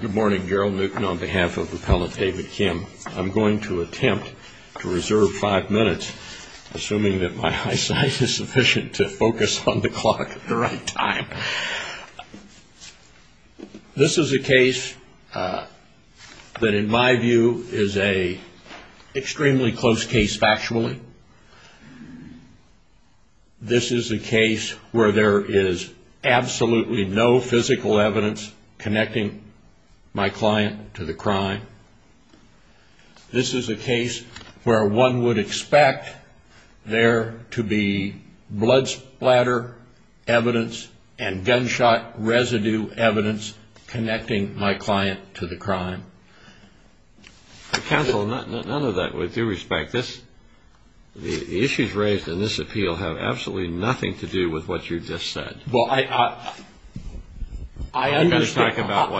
Good morning, Gerald Newkin on behalf of Appellant David Kim. I'm going to attempt to reserve five minutes, assuming that my eyesight is sufficient to focus on the clock at the right time. This is a case that, in my view, is an extremely close case factually. This is a case where there is absolutely no physical evidence connecting my client to the crime. This is a case where one would expect there to be blood splatter evidence and gunshot residue evidence connecting my client to the crime. Counsel, none of that with due respect. The issues raised in this appeal have absolutely nothing to do with what you just said. Well, I understand. Are we going to talk about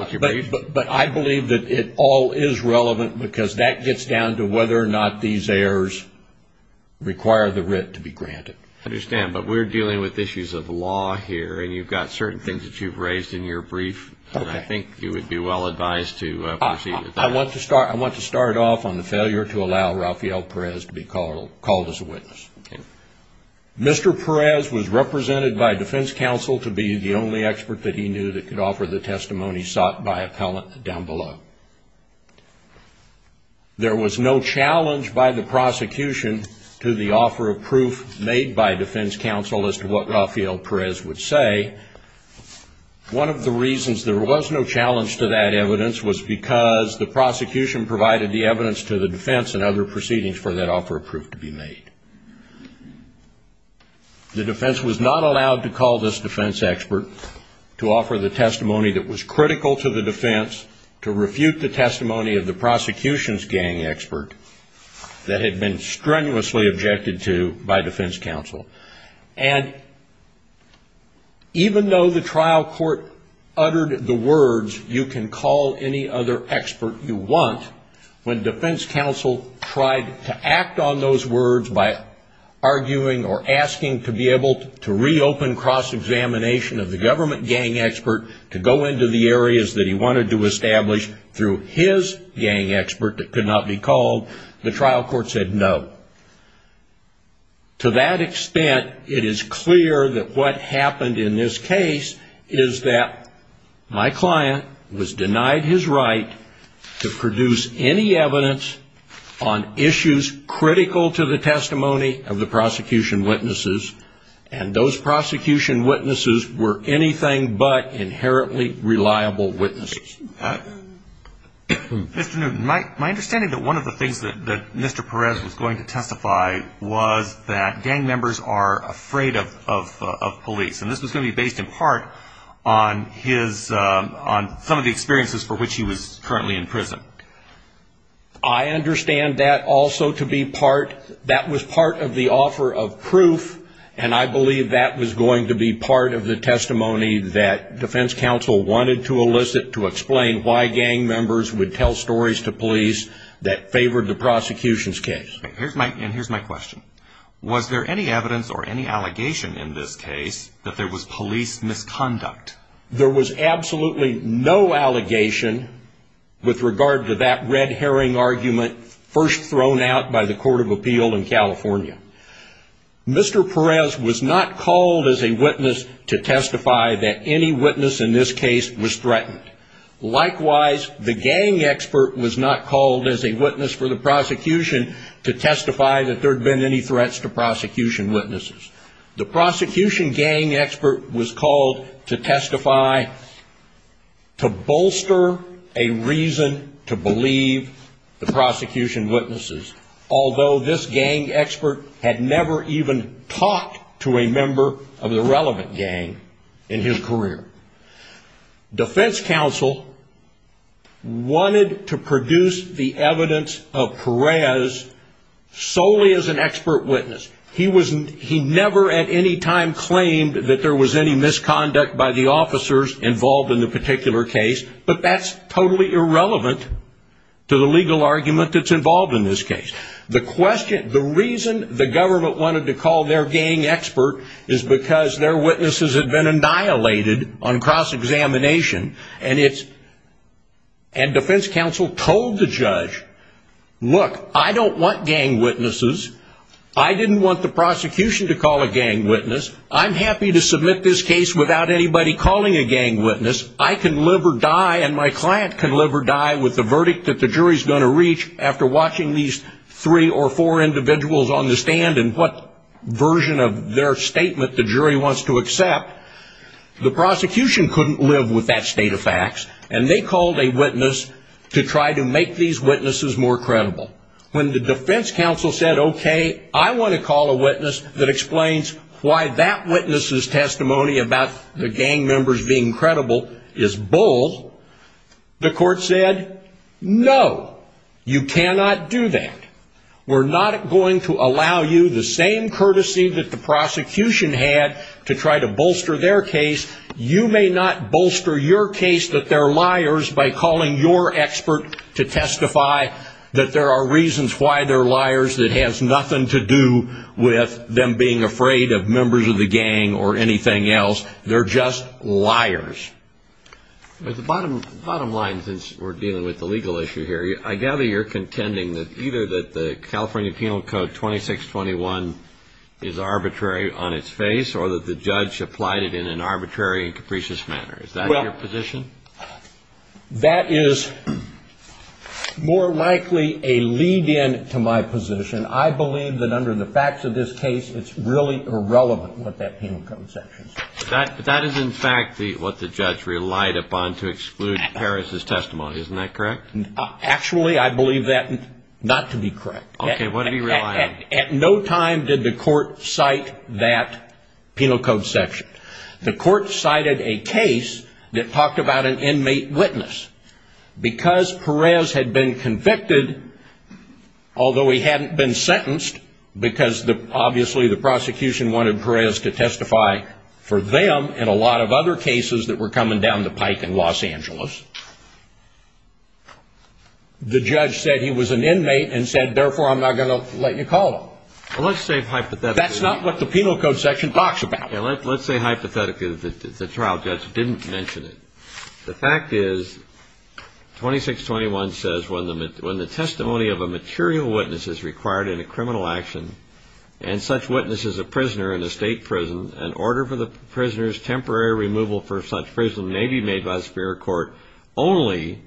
what you briefed? But I believe that it all is relevant because that gets down to whether or not these errors require the writ to be granted. I understand. But we're dealing with issues of law here, and you've got certain things that you've raised in your brief. I think you would be well advised to proceed with that. I want to start off on the failure to allow Rafael Perez to be called as a witness. Mr. Perez was represented by defense counsel to be the only expert that he knew that could offer the testimony sought by appellant down below. There was no challenge by the prosecution to the offer of proof made by defense counsel as to what Rafael Perez would say. One of the reasons there was no challenge to that evidence was because the prosecution provided the evidence to the defense and other proceedings for that offer of proof to be made. The defense was not allowed to call this defense expert to offer the testimony that was critical to the defense to refute the testimony of the prosecution's gang expert that had been strenuously objected to by defense counsel. And even though the trial court uttered the words, you can call any other expert you want, when defense counsel tried to act on those words by arguing or asking to be able to reopen cross-examination of the government gang expert to go into the areas that he wanted to establish through his gang expert that could not be called, the trial court said no. To that extent, it is clear that what happened in this case is that my client was denied his right to produce any evidence on issues critical to the testimony of the prosecution witnesses, and those prosecution witnesses were anything but inherently reliable witnesses. Mr. Newton, my understanding that one of the things that Mr. Perez was going to testify was that gang members are afraid of police, and this was going to be based in part on his, on some of the experiences for which he was currently in prison. I understand that also to be part, that was part of the offer of proof, and I believe that was going to be part of the testimony that defense counsel wanted to elicit to explain why gang members would tell stories to police that favored the prosecution's case. And here's my question. Was there any evidence or any allegation in this case that there was police misconduct? There was absolutely no allegation with regard to that red herring argument first thrown out by the Court of Appeal in California. Mr. Perez was not called as a witness to testify that any witness in this case was threatened. Likewise, the gang expert was not called as a witness for the prosecution to testify that there had been any threats to prosecution witnesses. The prosecution gang expert was called to testify to bolster a reason to believe the prosecution witnesses, although this gang expert had never even talked to a member of the relevant gang in his career. Defense counsel wanted to produce the evidence of Perez solely as an expert witness. He never at any time claimed that there was any misconduct by the officers involved in the particular case, but that's totally irrelevant to the legal argument that's involved in this case. The reason the government wanted to call their gang expert is because their witnesses had been annihilated on cross-examination, and defense counsel told the judge, look, I don't want gang witnesses. I didn't want the prosecution to call a gang witness. I'm happy to submit this case without anybody calling a gang witness. I can live or die, and my client can live or die with the verdict that the jury is going to reach after watching these three or four individuals on the stand and what version of their statement the jury wants to accept. The prosecution couldn't live with that state of facts, and they called a witness to try to make these witnesses more credible. When the defense counsel said, okay, I want to call a witness that explains why that witness's testimony about the gang members being credible is bold, the court said, no, you cannot do that. We're not going to allow you the same courtesy that the prosecution had to try to bolster their case. You may not bolster your case that they're liars by calling your expert to testify that there are reasons why they're liars that has nothing to do with them being afraid of members of the gang or anything else. They're just liars. At the bottom line, since we're dealing with the legal issue here, I gather you're contending that either that the California Penal Code 2621 is arbitrary on its face or that the judge applied it in an arbitrary and capricious manner. Is that your position? Well, that is more likely a lead-in to my position. I believe that under the facts of this case, it's really irrelevant what that Penal Code section says. But that is, in fact, what the judge relied upon to exclude Harris's testimony. Isn't that correct? Actually, I believe that not to be correct. Okay. What did he rely on? At no time did the court cite that Penal Code section. The court cited a case that talked about an inmate witness. Because Perez had been convicted, although he hadn't been sentenced, because obviously the prosecution wanted Perez to testify for them and a lot of other cases that were coming down the pike in Los Angeles, the judge said he was an inmate and said, therefore, I'm not going to let you call him. Well, let's say hypothetically. That's not what the Penal Code section talks about. Let's say hypothetically that the trial judge didn't mention it. The fact is 2621 says, when the testimony of a material witness is required in a criminal action and such witness is a prisoner in a state prison, an order for the prisoner's temporary removal for such prison may be made by a superior court only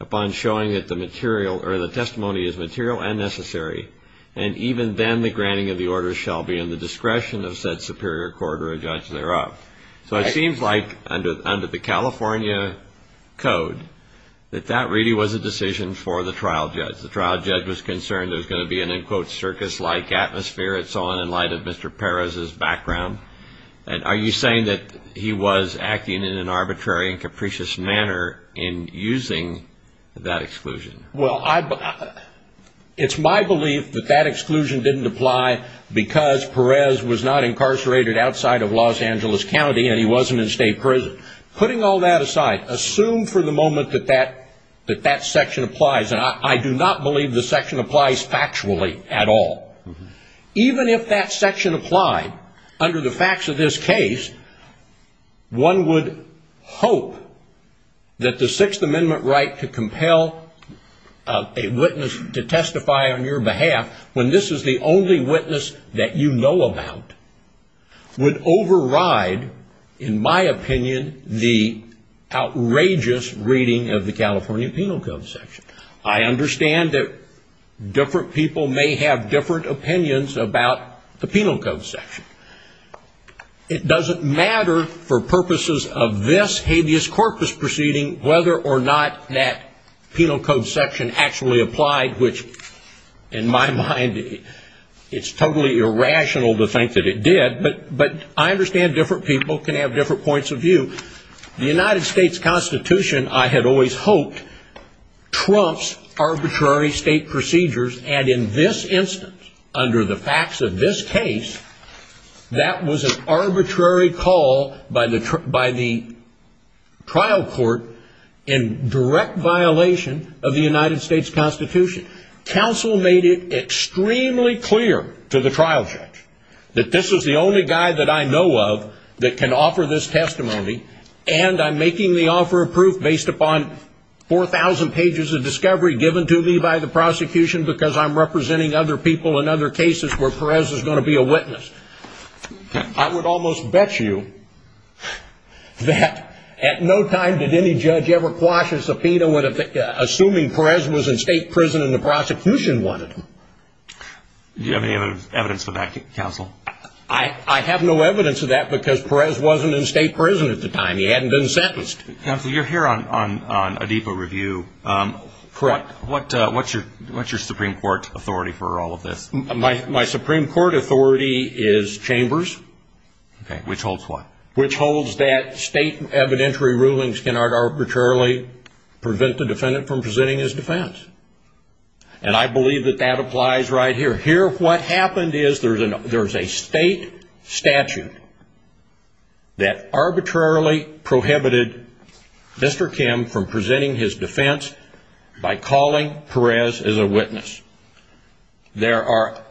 upon showing that the testimony is material and necessary, and even then the granting of the order shall be in the discretion of said superior court or a judge thereof. So it seems like under the California Code that that really was a decision for the trial judge. The trial judge was concerned there was going to be an, in quotes, Are you saying that he was acting in an arbitrary and capricious manner in using that exclusion? Well, it's my belief that that exclusion didn't apply because Perez was not incarcerated outside of Los Angeles County and he wasn't in state prison. Putting all that aside, assume for the moment that that section applies, and I do not believe the section applies factually at all. Even if that section applied, under the facts of this case, one would hope that the Sixth Amendment right to compel a witness to testify on your behalf, when this is the only witness that you know about, would override, in my opinion, the outrageous reading of the California Penal Code section. I understand that different people may have different opinions about the Penal Code section. It doesn't matter for purposes of this habeas corpus proceeding whether or not that Penal Code section actually applied, which in my mind it's totally irrational to think that it did, but I understand different people can have different points of view. The United States Constitution, I had always hoped, trumps arbitrary state procedures, and in this instance, under the facts of this case, that was an arbitrary call by the trial court in direct violation of the United States Constitution. Counsel made it extremely clear to the trial judge that this is the only guy that I know of that can offer this testimony, and I'm making the offer of proof based upon 4,000 pages of discovery given to me by the prosecution because I'm representing other people in other cases where Perez is going to be a witness. I would almost bet you that at no time did any judge ever quash a subpoena assuming Perez was in state prison and the prosecution wanted him. Do you have any evidence of that, Counsel? I have no evidence of that because Perez wasn't in state prison at the time. He hadn't been sentenced. Counsel, you're here on Adipa Review. Correct. What's your Supreme Court authority for all of this? My Supreme Court authority is Chambers. Okay. Which holds what? Which holds that state evidentiary rulings cannot arbitrarily prevent the defendant from presenting his defense, and I believe that that applies right here. Here what happened is there's a state statute that arbitrarily prohibited Mr. Kim from presenting his defense by calling Perez as a witness. There are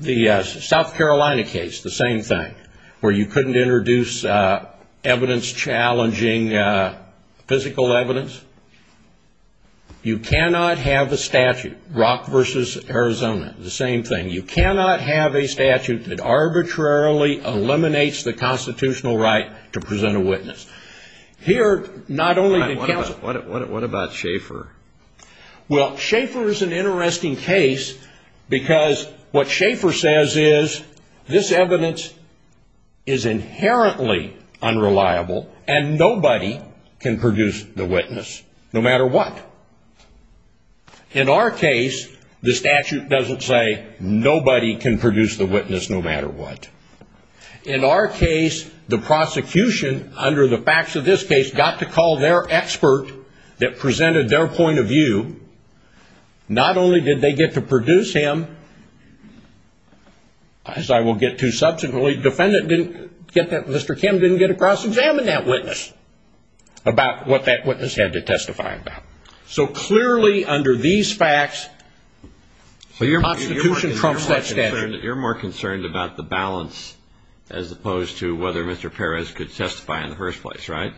the South Carolina case, the same thing, where you couldn't introduce evidence challenging physical evidence. You cannot have a statute, Rock v. Arizona, the same thing. You cannot have a statute that arbitrarily eliminates the constitutional right to present a witness. Here not only did Counsel What about Schaefer? Well, Schaefer is an interesting case because what Schaefer says is this evidence is inherently unreliable and nobody can produce the witness no matter what. In our case, the statute doesn't say nobody can produce the witness no matter what. In our case, the prosecution, under the facts of this case, got to call their expert that presented their point of view. Not only did they get to produce him, as I will get to subsequently, the defendant, Mr. Kim, didn't get to cross-examine that witness about what that witness had to testify about. So clearly under these facts, the Constitution trumps that statute. You're more concerned about the balance as opposed to whether Mr. Perez could testify in the first place, right?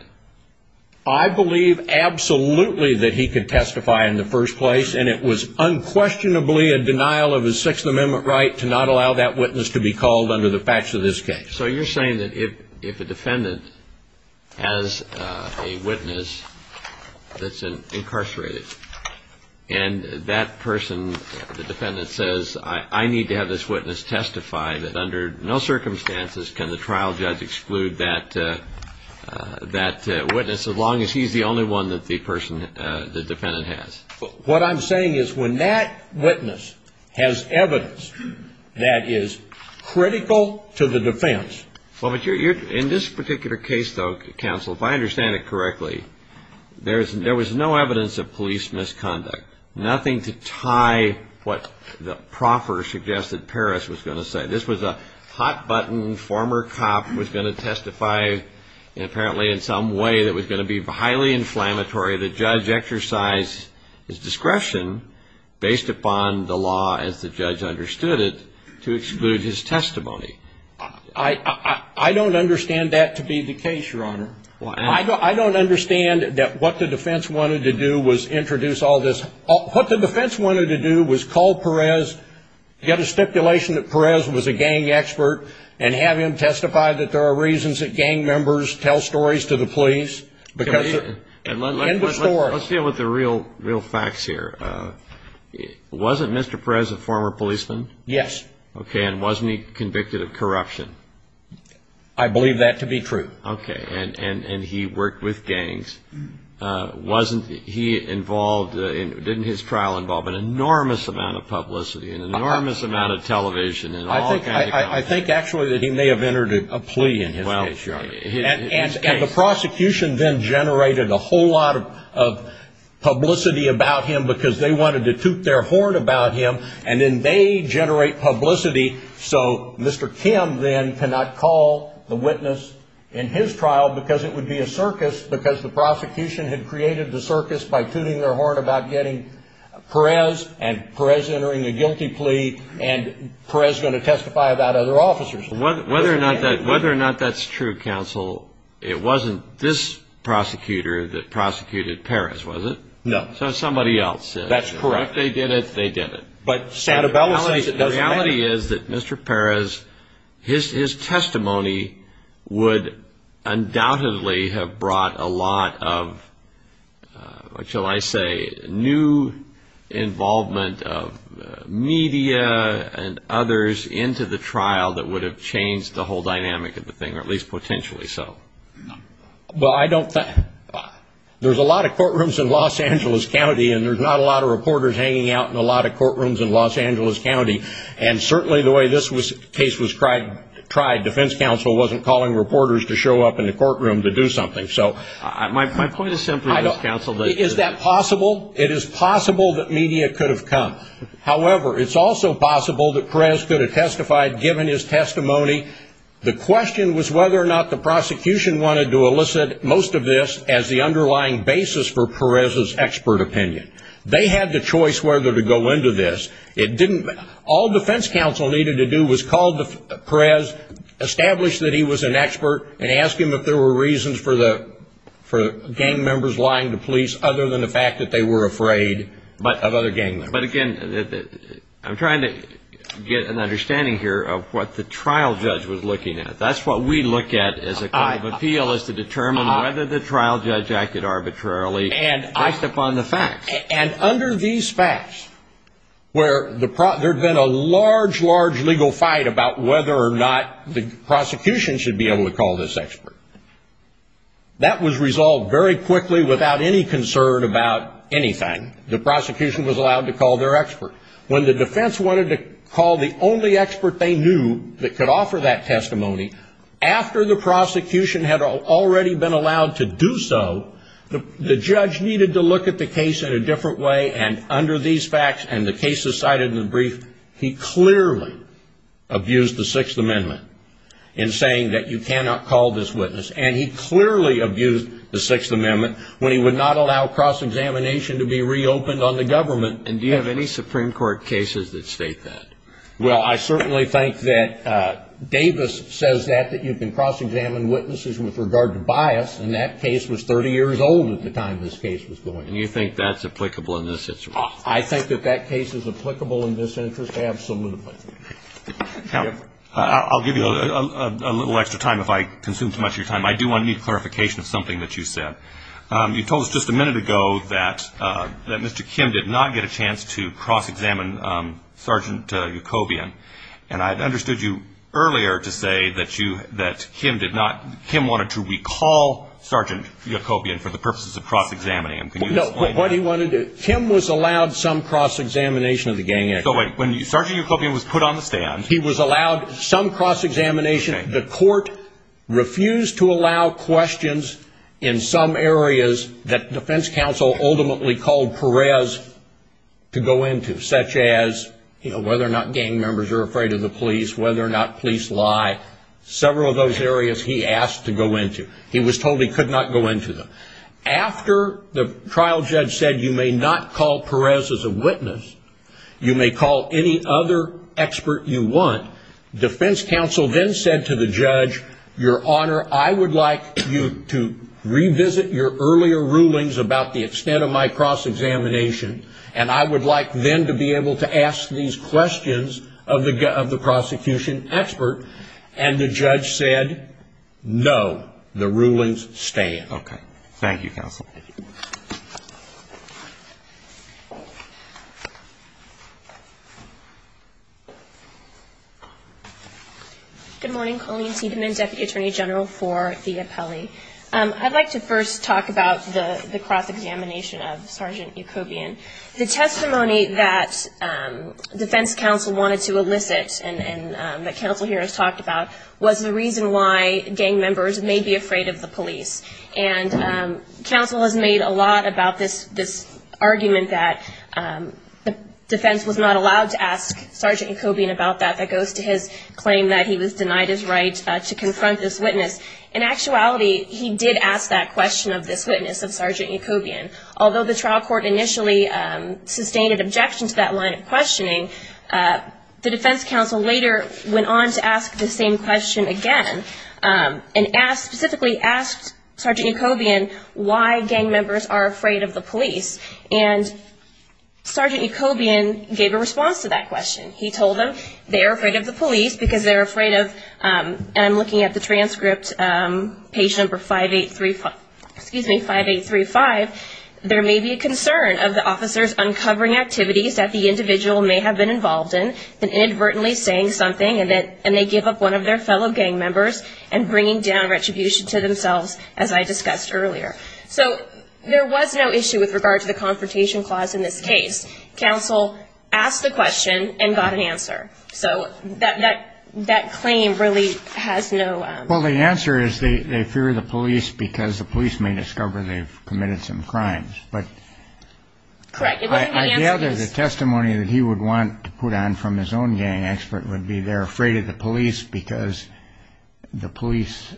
I believe absolutely that he could testify in the first place, and it was unquestionably a denial of his Sixth Amendment right to not allow that witness to be called under the facts of this case. So you're saying that if a defendant has a witness that's incarcerated, and that person, the defendant, says, I need to have this witness testify, that under no circumstances can the trial judge exclude that witness as long as he's the only one that the defendant has? What I'm saying is when that witness has evidence that is critical to the defense... Well, but in this particular case, though, counsel, if I understand it correctly, there was no evidence of police misconduct. Nothing to tie what the proffer suggested Perez was going to say. This was a hot-button former cop who was going to testify apparently in some way that was going to be highly inflammatory. The judge exercised his discretion based upon the law as the judge understood it to exclude his testimony. I don't understand that to be the case, Your Honor. I don't understand that what the defense wanted to do was introduce all this. What the defense wanted to do was call Perez, get a stipulation that Perez was a gang expert, and have him testify that there are reasons that gang members tell stories to the police. Let's deal with the real facts here. Wasn't Mr. Perez a former policeman? Yes. Okay. And wasn't he convicted of corruption? I believe that to be true. Okay. And he worked with gangs. Didn't his trial involve an enormous amount of publicity and an enormous amount of television? I think actually that he may have entered a plea in his case, Your Honor. And the prosecution then generated a whole lot of publicity about him because they wanted to toot their horn about him, and then they generate publicity so Mr. Kim then cannot call the witness in his trial because it would be a circus because the prosecution had created the circus by tooting their horn about getting Perez, and Perez entering a guilty plea, and Perez going to testify about other officers. Whether or not that's true, counsel, it wasn't this prosecutor that prosecuted Perez, was it? No. So somebody else did. That's correct. If they did it, they did it. But Santabella says it doesn't matter. The reality is that Mr. Perez, his testimony would undoubtedly have brought a lot of, shall I say, new involvement of media and others into the trial that would have changed the whole dynamic of the thing, or at least potentially so. Well, I don't think, there's a lot of courtrooms in Los Angeles County, and there's not a lot of reporters hanging out in a lot of courtrooms in Los Angeles County. And certainly the way this case was tried, defense counsel wasn't calling reporters to show up in the courtroom to do something. My point is simply this, counsel. Is that possible? It is possible that media could have come. However, it's also possible that Perez could have testified given his testimony. The question was whether or not the prosecution wanted to elicit most of this as the underlying basis for Perez's expert opinion. They had the choice whether to go into this. All defense counsel needed to do was call Perez, establish that he was an expert, and ask him if there were reasons for gang members lying to police other than the fact that they were afraid of other gang members. But again, I'm trying to get an understanding here of what the trial judge was looking at. That's what we look at as a kind of appeal, is to determine whether the trial judge acted arbitrarily based upon the facts. And under these facts, where there had been a large, large legal fight about whether or not the prosecution should be able to call this expert, that was resolved very quickly without any concern about anything. The prosecution was allowed to call their expert. When the defense wanted to call the only expert they knew that could offer that testimony, after the prosecution had already been allowed to do so, the judge needed to look at the case in a different way. And under these facts and the cases cited in the brief, he clearly abused the Sixth Amendment in saying that you cannot call this witness. And he clearly abused the Sixth Amendment when he would not allow cross-examination to be reopened on the government. And do you have any Supreme Court cases that state that? Well, I certainly think that Davis says that, that you can cross-examine witnesses with regard to bias, and that case was 30 years old at the time this case was going. And you think that's applicable in this instance? I think that that case is applicable in this instance, absolutely. I'll give you a little extra time if I consume too much of your time. I do want to need clarification of something that you said. You told us just a minute ago that Mr. Kim did not get a chance to cross-examine Sergeant Yacobian, and I had understood you earlier to say that Kim wanted to recall Sergeant Yacobian for the purposes of cross-examining him. Can you explain that? No, what he wanted to do, Kim was allowed some cross-examination of the gang activity. So wait, when Sergeant Yacobian was put on the stand. He was allowed some cross-examination. The court refused to allow questions in some areas that defense counsel ultimately called Perez to go into, such as whether or not gang members are afraid of the police, whether or not police lie, several of those areas he asked to go into. He was told he could not go into them. After the trial judge said you may not call Perez as a witness, you may call any other expert you want, defense counsel then said to the judge, Your Honor, I would like you to revisit your earlier rulings about the extent of my cross-examination, and I would like then to be able to ask these questions of the prosecution expert. And the judge said, No, the rulings stay in. Okay. Thank you, counsel. Good morning. Colleen Tiedemann, Deputy Attorney General for the appellee. I'd like to first talk about the cross-examination of Sergeant Yacobian. The testimony that defense counsel wanted to elicit and that counsel here has talked about was the reason why gang members may be afraid of the police. And counsel has made a lot about this argument that defense was not allowed to ask Sergeant Yacobian about that. That goes to his claim that he was denied his right to confront this witness. In actuality, he did ask that question of this witness of Sergeant Yacobian. Although the trial court initially sustained an objection to that line of questioning, the defense counsel later went on to ask the same question again and specifically asked Sergeant Yacobian why gang members are afraid of the police. And Sergeant Yacobian gave a response to that question. He told them they are afraid of the police because they're afraid of, and I'm looking at the transcript, page number 5835, there may be a concern of the officers uncovering activities that the individual may have been involved in and inadvertently saying something and they give up one of their fellow gang members and bringing down retribution to themselves, as I discussed earlier. So there was no issue with regard to the confrontation clause in this case. Counsel asked the question and got an answer. So that claim really has no – Well, the answer is they fear the police because the police may discover they've committed some crimes. Correct. I gather the testimony that he would want to put on from his own gang expert would be they're afraid of the police because the police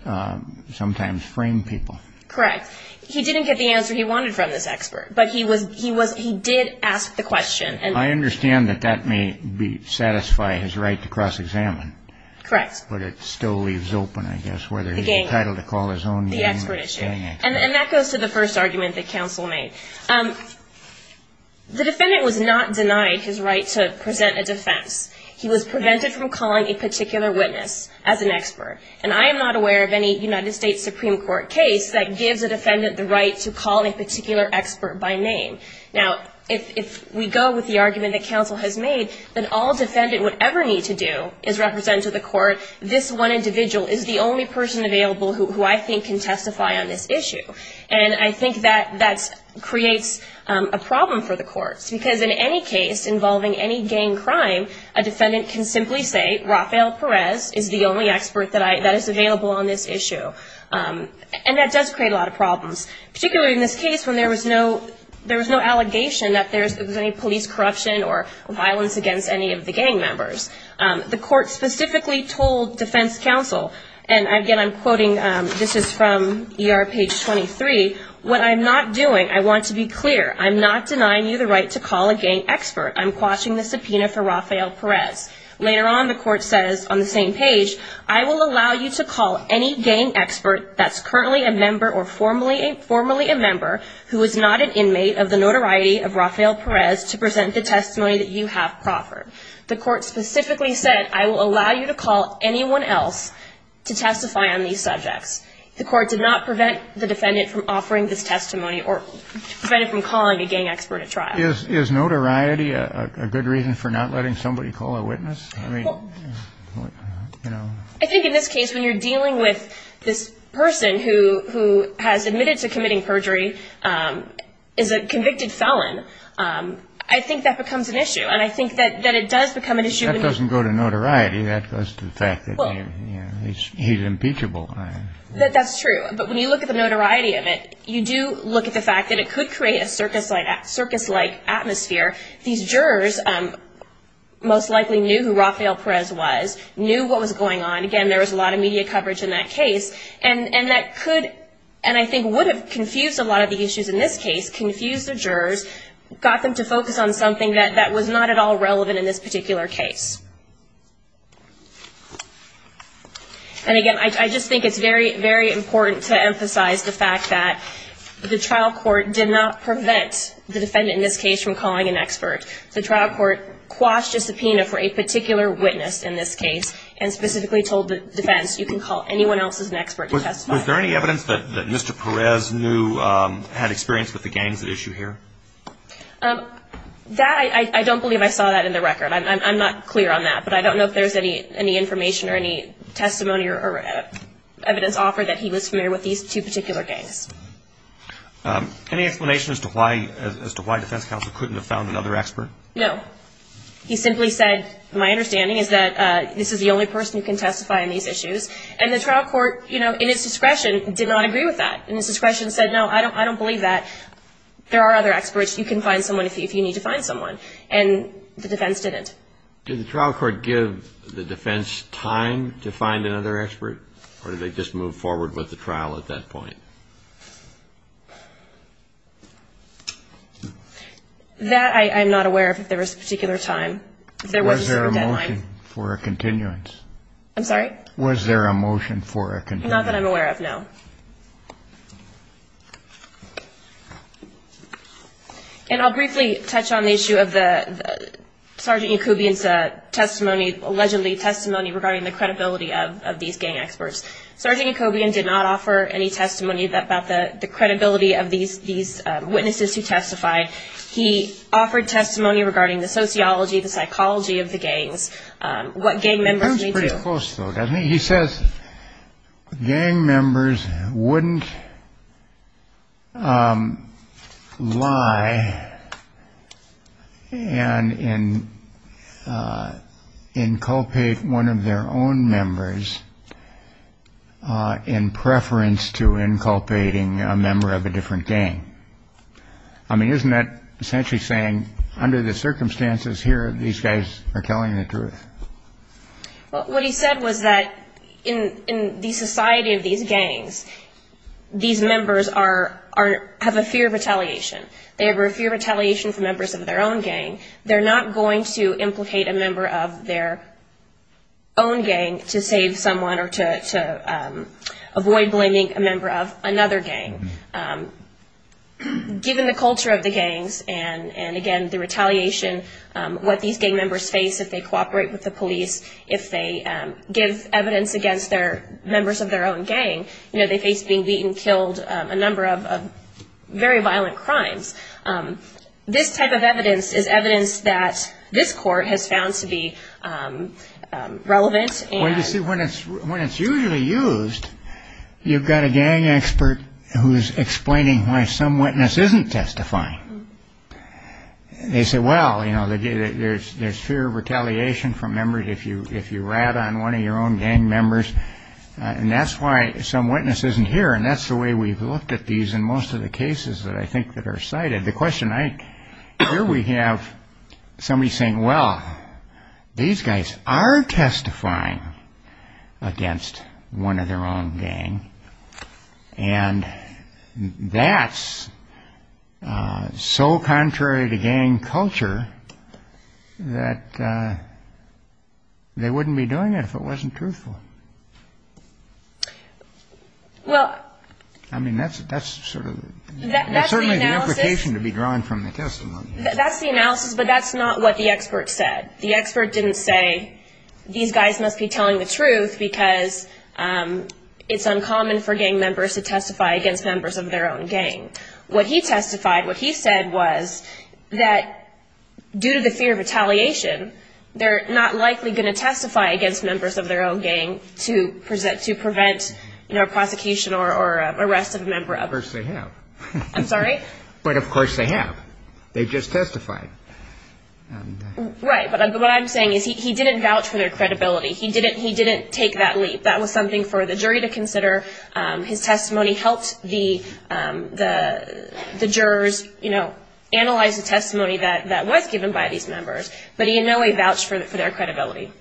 sometimes frame people. Correct. He didn't get the answer he wanted from this expert, but he did ask the question. I understand that that may satisfy his right to cross-examine. Correct. But it still leaves open, I guess, whether he's entitled to call his own gang expert. And that goes to the first argument that counsel made. The defendant was not denied his right to present a defense. He was prevented from calling a particular witness as an expert. And I am not aware of any United States Supreme Court case that gives a defendant the right to call a particular expert by name. Now, if we go with the argument that counsel has made, that all defendant would ever need to do is represent to the court this one individual is the only person available who I think can testify on this issue. And I think that that creates a problem for the courts because in any case involving any gang crime, a defendant can simply say Rafael Perez is the only expert that is available on this issue. And that does create a lot of problems, particularly in this case when there was no allegation that there was any police corruption or violence against any of the gang members. The court specifically told defense counsel, and again I'm quoting, this is from ER page 23, what I'm not doing, I want to be clear, I'm not denying you the right to call a gang expert. I'm quashing the subpoena for Rafael Perez. Later on the court says on the same page, I will allow you to call any gang expert that's currently a member or formerly a member who is not an inmate of the notoriety of Rafael Perez to present the testimony that you have proffered. The court specifically said I will allow you to call anyone else to testify on these subjects. The court did not prevent the defendant from offering this testimony or prevent it from calling a gang expert at trial. Is notoriety a good reason for not letting somebody call a witness? I think in this case when you're dealing with this person who has admitted to committing perjury, is a convicted felon, I think that becomes an issue, and I think that it does become an issue. That doesn't go to notoriety, that goes to the fact that he's impeachable. That's true. But when you look at the notoriety of it, you do look at the fact that it could create a circus-like atmosphere. These jurors most likely knew who Rafael Perez was, knew what was going on. Again, there was a lot of media coverage in that case, and that could, and I think would have confused a lot of the issues in this case, confused the jurors, got them to focus on something that was not at all relevant in this particular case. And again, I just think it's very, very important to emphasize the fact that the trial court did not prevent the defendant in this case from calling an expert. The trial court quashed a subpoena for a particular witness in this case and specifically told the defense you can call anyone else as an expert to testify. Was there any evidence that Mr. Perez knew, had experience with the gangs at issue here? That, I don't believe I saw that in the record. I'm not clear on that, but I don't know if there's any information or any testimony or evidence offered that he was familiar with these two particular gangs. Any explanation as to why defense counsel couldn't have found another expert? No. He simply said, my understanding is that this is the only person who can testify on these issues. And the trial court, you know, in its discretion, did not agree with that. In its discretion said, no, I don't believe that. There are other experts. You can find someone if you need to find someone. And the defense didn't. Did the trial court give the defense time to find another expert? Or did they just move forward with the trial at that point? That, I'm not aware of if there was a particular time. Was there a motion for a continuance? I'm sorry? Was there a motion for a continuance? Not that I'm aware of, no. And I'll briefly touch on the issue of the Sergeant Jacobian's testimony, allegedly testimony regarding the credibility of these gang experts. Sergeant Jacobian did not offer any testimony about the credibility of these witnesses who testified. He offered testimony regarding the sociology, the psychology of the gangs, what gang members need to do. He says gang members wouldn't lie and inculpate one of their own members in preference to inculpating a member of a different gang. I mean, isn't that essentially saying, under the circumstances here, these guys are telling the truth? Well, what he said was that in the society of these gangs, these members have a fear of retaliation. They have a fear of retaliation from members of their own gang. They're not going to implicate a member of their own gang to save someone or to avoid blaming a member of another gang. Given the culture of the gangs and, again, the retaliation, what these gang members face if they cooperate with the police, if they give evidence against members of their own gang, they face being beaten, killed, a number of very violent crimes. This type of evidence is evidence that this court has found to be relevant. Well, you see, when it's usually used, you've got a gang expert who's explaining why some witness isn't testifying. They say, well, you know, there's fear of retaliation from members if you rat on one of your own gang members. And that's why some witness isn't here. And that's the way we've looked at these in most of the cases that I think that are cited. Here we have somebody saying, well, these guys are testifying against one of their own gang. And that's so contrary to gang culture that they wouldn't be doing it if it wasn't truthful. Well, I mean, that's certainly the implication to be drawn from the testimony. That's the analysis, but that's not what the expert said. The expert didn't say these guys must be telling the truth because it's uncommon for gang members to testify against members of their own gang. What he testified, what he said was that due to the fear of retaliation, they're not likely going to testify against members of their own gang to prevent, you know, prosecution or arrest of a member. Of course they have. I'm sorry? But of course they have. They just testified. Right. But what I'm saying is he didn't vouch for their credibility. He didn't take that leap. That was something for the jury to consider. His testimony helped the jurors, you know, analyze the testimony that was given by these members. But he in no way vouched for their credibility.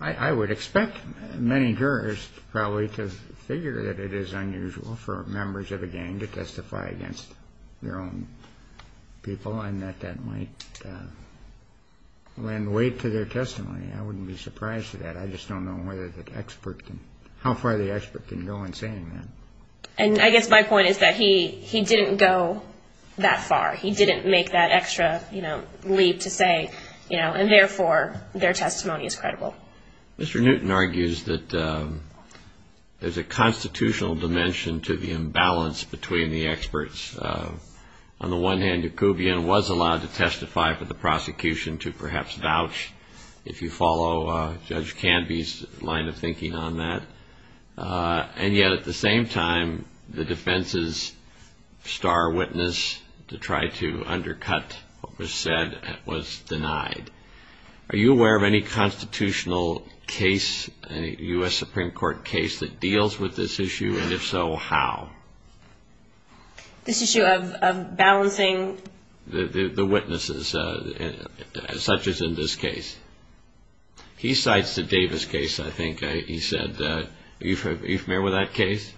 I would expect many jurors probably to figure that it is unusual for members of a gang to testify against their own people and that that might lend weight to their testimony. I wouldn't be surprised to that. I just don't know how far the expert can go in saying that. And I guess my point is that he didn't go that far. He didn't make that extra, you know, leap to say, you know, and therefore their testimony is credible. Mr. Newton argues that there's a constitutional dimension to the imbalance between the experts. On the one hand, Yacoubian was allowed to testify for the prosecution to perhaps vouch, if you follow Judge Canby's line of thinking on that. And yet at the same time, the defense's star witness to try to undercut what was said was denied. Are you aware of any constitutional case, any U.S. Supreme Court case that deals with this issue? And if so, how? This issue of balancing. The witnesses, such as in this case. He cites the Davis case. I think he said that you've met with that case.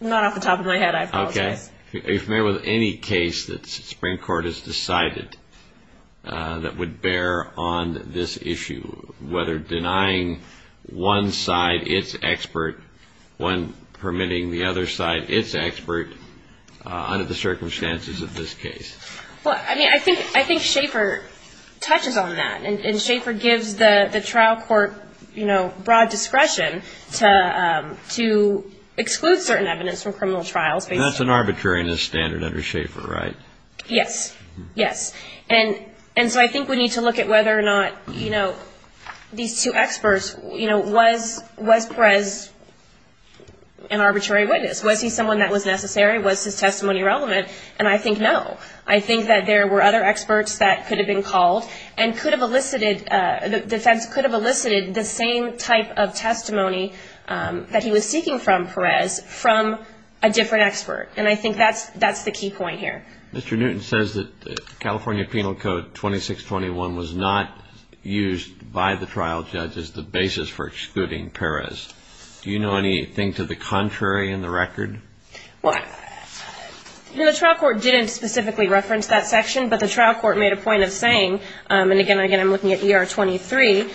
Not off the top of my head. I apologize. If there was any case that the Supreme Court has decided that would bear on this issue, whether denying one side its expert when permitting the other side, it's expert under the circumstances of this case. Well, I mean, I think Schaefer touches on that. And Schaefer gives the trial court, you know, broad discretion to exclude certain evidence from criminal trials. That's an arbitrariness standard under Schaefer, right? Yes. Yes. And so I think we need to look at whether or not, you know, these two experts, you know, was Perez an arbitrary witness? Was he someone that was necessary? Was his testimony relevant? And I think no. I think that there were other experts that could have been called and could have elicited the same type of testimony that he was seeking from Perez from a different expert. And I think that's the key point here. Mr. Newton says that the California Penal Code 2621 was not used by the trial judge as the basis for excluding Perez. Do you know anything to the contrary in the record? Well, you know, the trial court didn't specifically reference that section, but the trial court made a point of saying, and again, I'm looking at ER 23,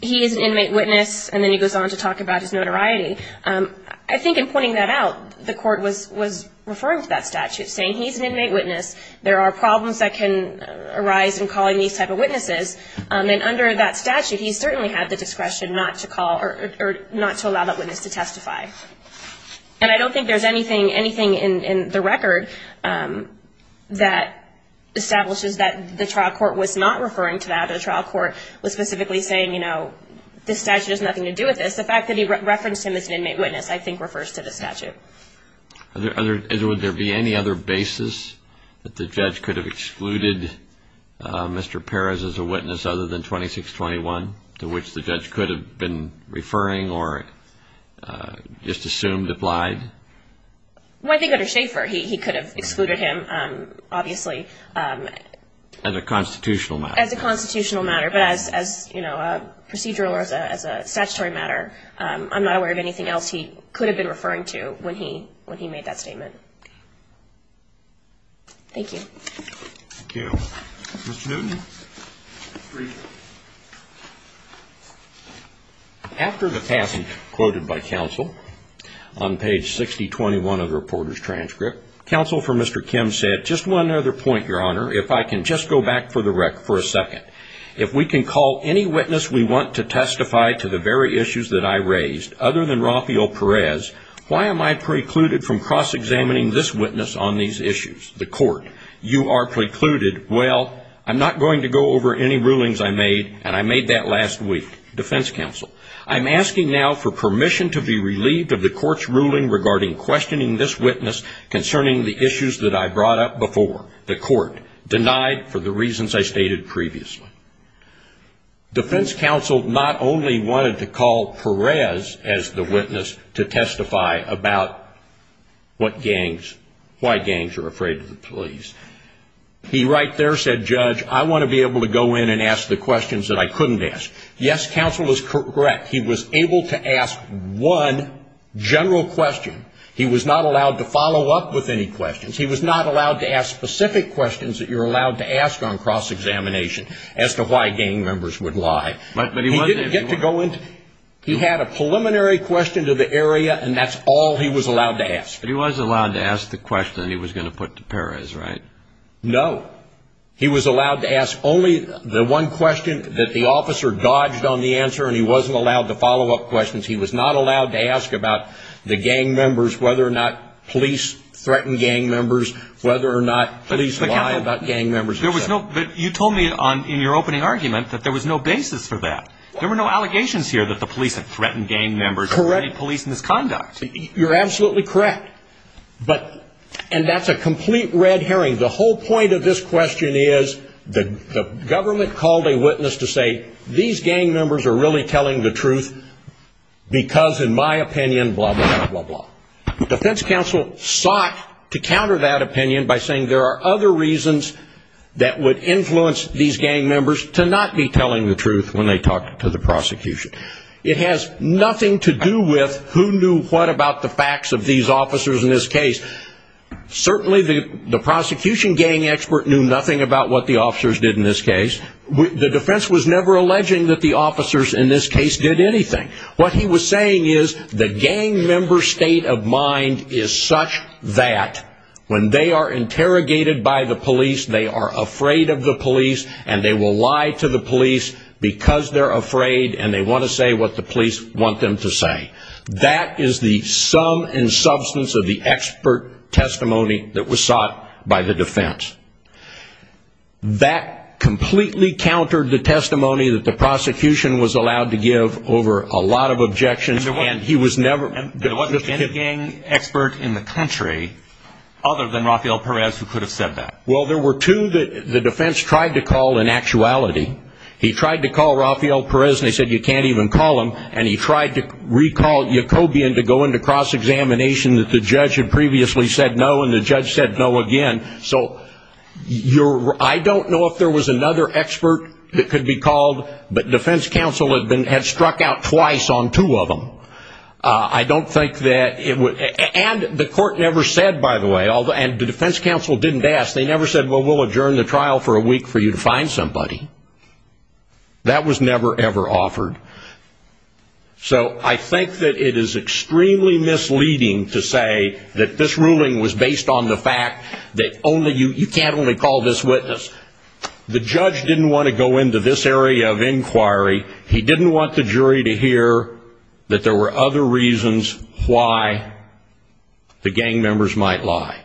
he is an inmate witness, and then he goes on to talk about his notoriety. I think in pointing that out, the court was referring to that statute, saying he's an inmate witness, there are problems that can arise in calling these type of witnesses, and under that statute, he certainly had the discretion not to allow that witness to testify. And I don't think there's anything in the record that establishes that the trial court was not referring to that, or the trial court was specifically saying, you know, this statute has nothing to do with this. The fact that he referenced him as an inmate witness, I think, refers to this statute. Would there be any other basis that the judge could have excluded Mr. Perez as a witness other than 2621, to which the judge could have been referring or just assumed applied? Well, I think under Schaeffer, he could have excluded him, obviously. As a constitutional matter. As a constitutional matter, but as, you know, a procedural or as a statutory matter. I'm not aware of anything else he could have been referring to when he made that statement. Thank you. Thank you. Mr. Newton. After the passage quoted by counsel on page 6021 of the reporter's transcript, counsel for Mr. Kim said, just one other point, Your Honor, if I can just go back for a second. If we can call any witness we want to testify to the very issues that I raised, other than Rafael Perez, why am I precluded from cross-examining this witness on these issues? The court. You are precluded. Well, I'm not going to go over any rulings I made, and I made that last week. Defense counsel. I'm asking now for permission to be relieved of the court's ruling regarding questioning this witness concerning the issues that I brought up before. The court denied for the reasons I stated previously. Defense counsel not only wanted to call Perez as the witness to testify about what gangs, why gangs are afraid of the police. He right there said, Judge, I want to be able to go in and ask the questions that I couldn't ask. Yes, counsel is correct. He was able to ask one general question. He was not allowed to follow up with any questions. He was not allowed to ask specific questions that you're allowed to ask on cross-examination as to why gang members would lie. He didn't get to go in. He had a preliminary question to the area, and that's all he was allowed to ask. But he was allowed to ask the question he was going to put to Perez, right? No. He was allowed to ask only the one question that the officer dodged on the answer, and he wasn't allowed to follow up questions. He was not allowed to ask about the gang members, whether or not police threaten gang members, whether or not police lie about gang members. You told me in your opening argument that there was no basis for that. There were no allegations here that the police had threatened gang members or made police misconduct. You're absolutely correct, and that's a complete red herring. The whole point of this question is the government called a witness to say, these gang members are really telling the truth because, in my opinion, blah, blah, blah, blah. The defense counsel sought to counter that opinion by saying there are other reasons that would influence these gang members to not be telling the truth when they talk to the prosecution. It has nothing to do with who knew what about the facts of these officers in this case. Certainly the prosecution gang expert knew nothing about what the officers did in this case. The defense was never alleging that the officers in this case did anything. What he was saying is the gang member state of mind is such that when they are interrogated by the police, they are afraid of the police and they will lie to the police because they're afraid and they want to say what the police want them to say. That is the sum and substance of the expert testimony that was sought by the defense. That completely countered the testimony that the prosecution was allowed to give over a lot of objections. And there wasn't a gang expert in the country other than Rafael Perez who could have said that. Well, there were two that the defense tried to call in actuality. He tried to call Rafael Perez and they said you can't even call him, and he tried to recall Jacobian to go into cross-examination that the judge had previously said no, and the judge said no again. So I don't know if there was another expert that could be called, but defense counsel had struck out twice on two of them. And the court never said, by the way, and the defense counsel didn't ask, they never said, well, we'll adjourn the trial for a week for you to find somebody. That was never, ever offered. So I think that it is extremely misleading to say that this ruling was based on the fact that you can't only call this witness. The judge didn't want to go into this area of inquiry. He didn't want the jury to hear that there were other reasons why the gang members might lie.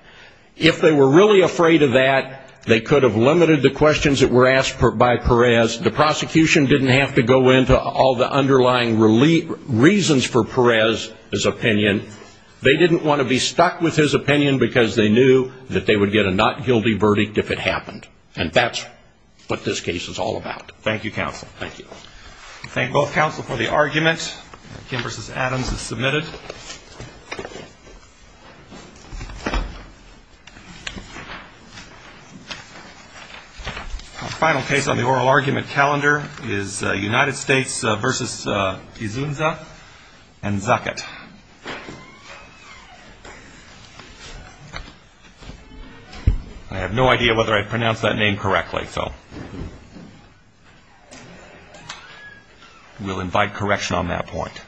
If they were really afraid of that, they could have limited the questions that were asked by Perez. The prosecution didn't have to go into all the underlying reasons for Perez's opinion. They didn't want to be stuck with his opinion because they knew that they would get a not guilty verdict if it happened. And that's what this case is all about. Thank you, counsel. Thank you. Thank both counsel for the argument. Kim versus Adams is submitted. Our final case on the oral argument calendar is United States versus Izunza and Zaket. I have no idea whether I pronounced that name correctly, so we'll invite correction on that point. Thank you.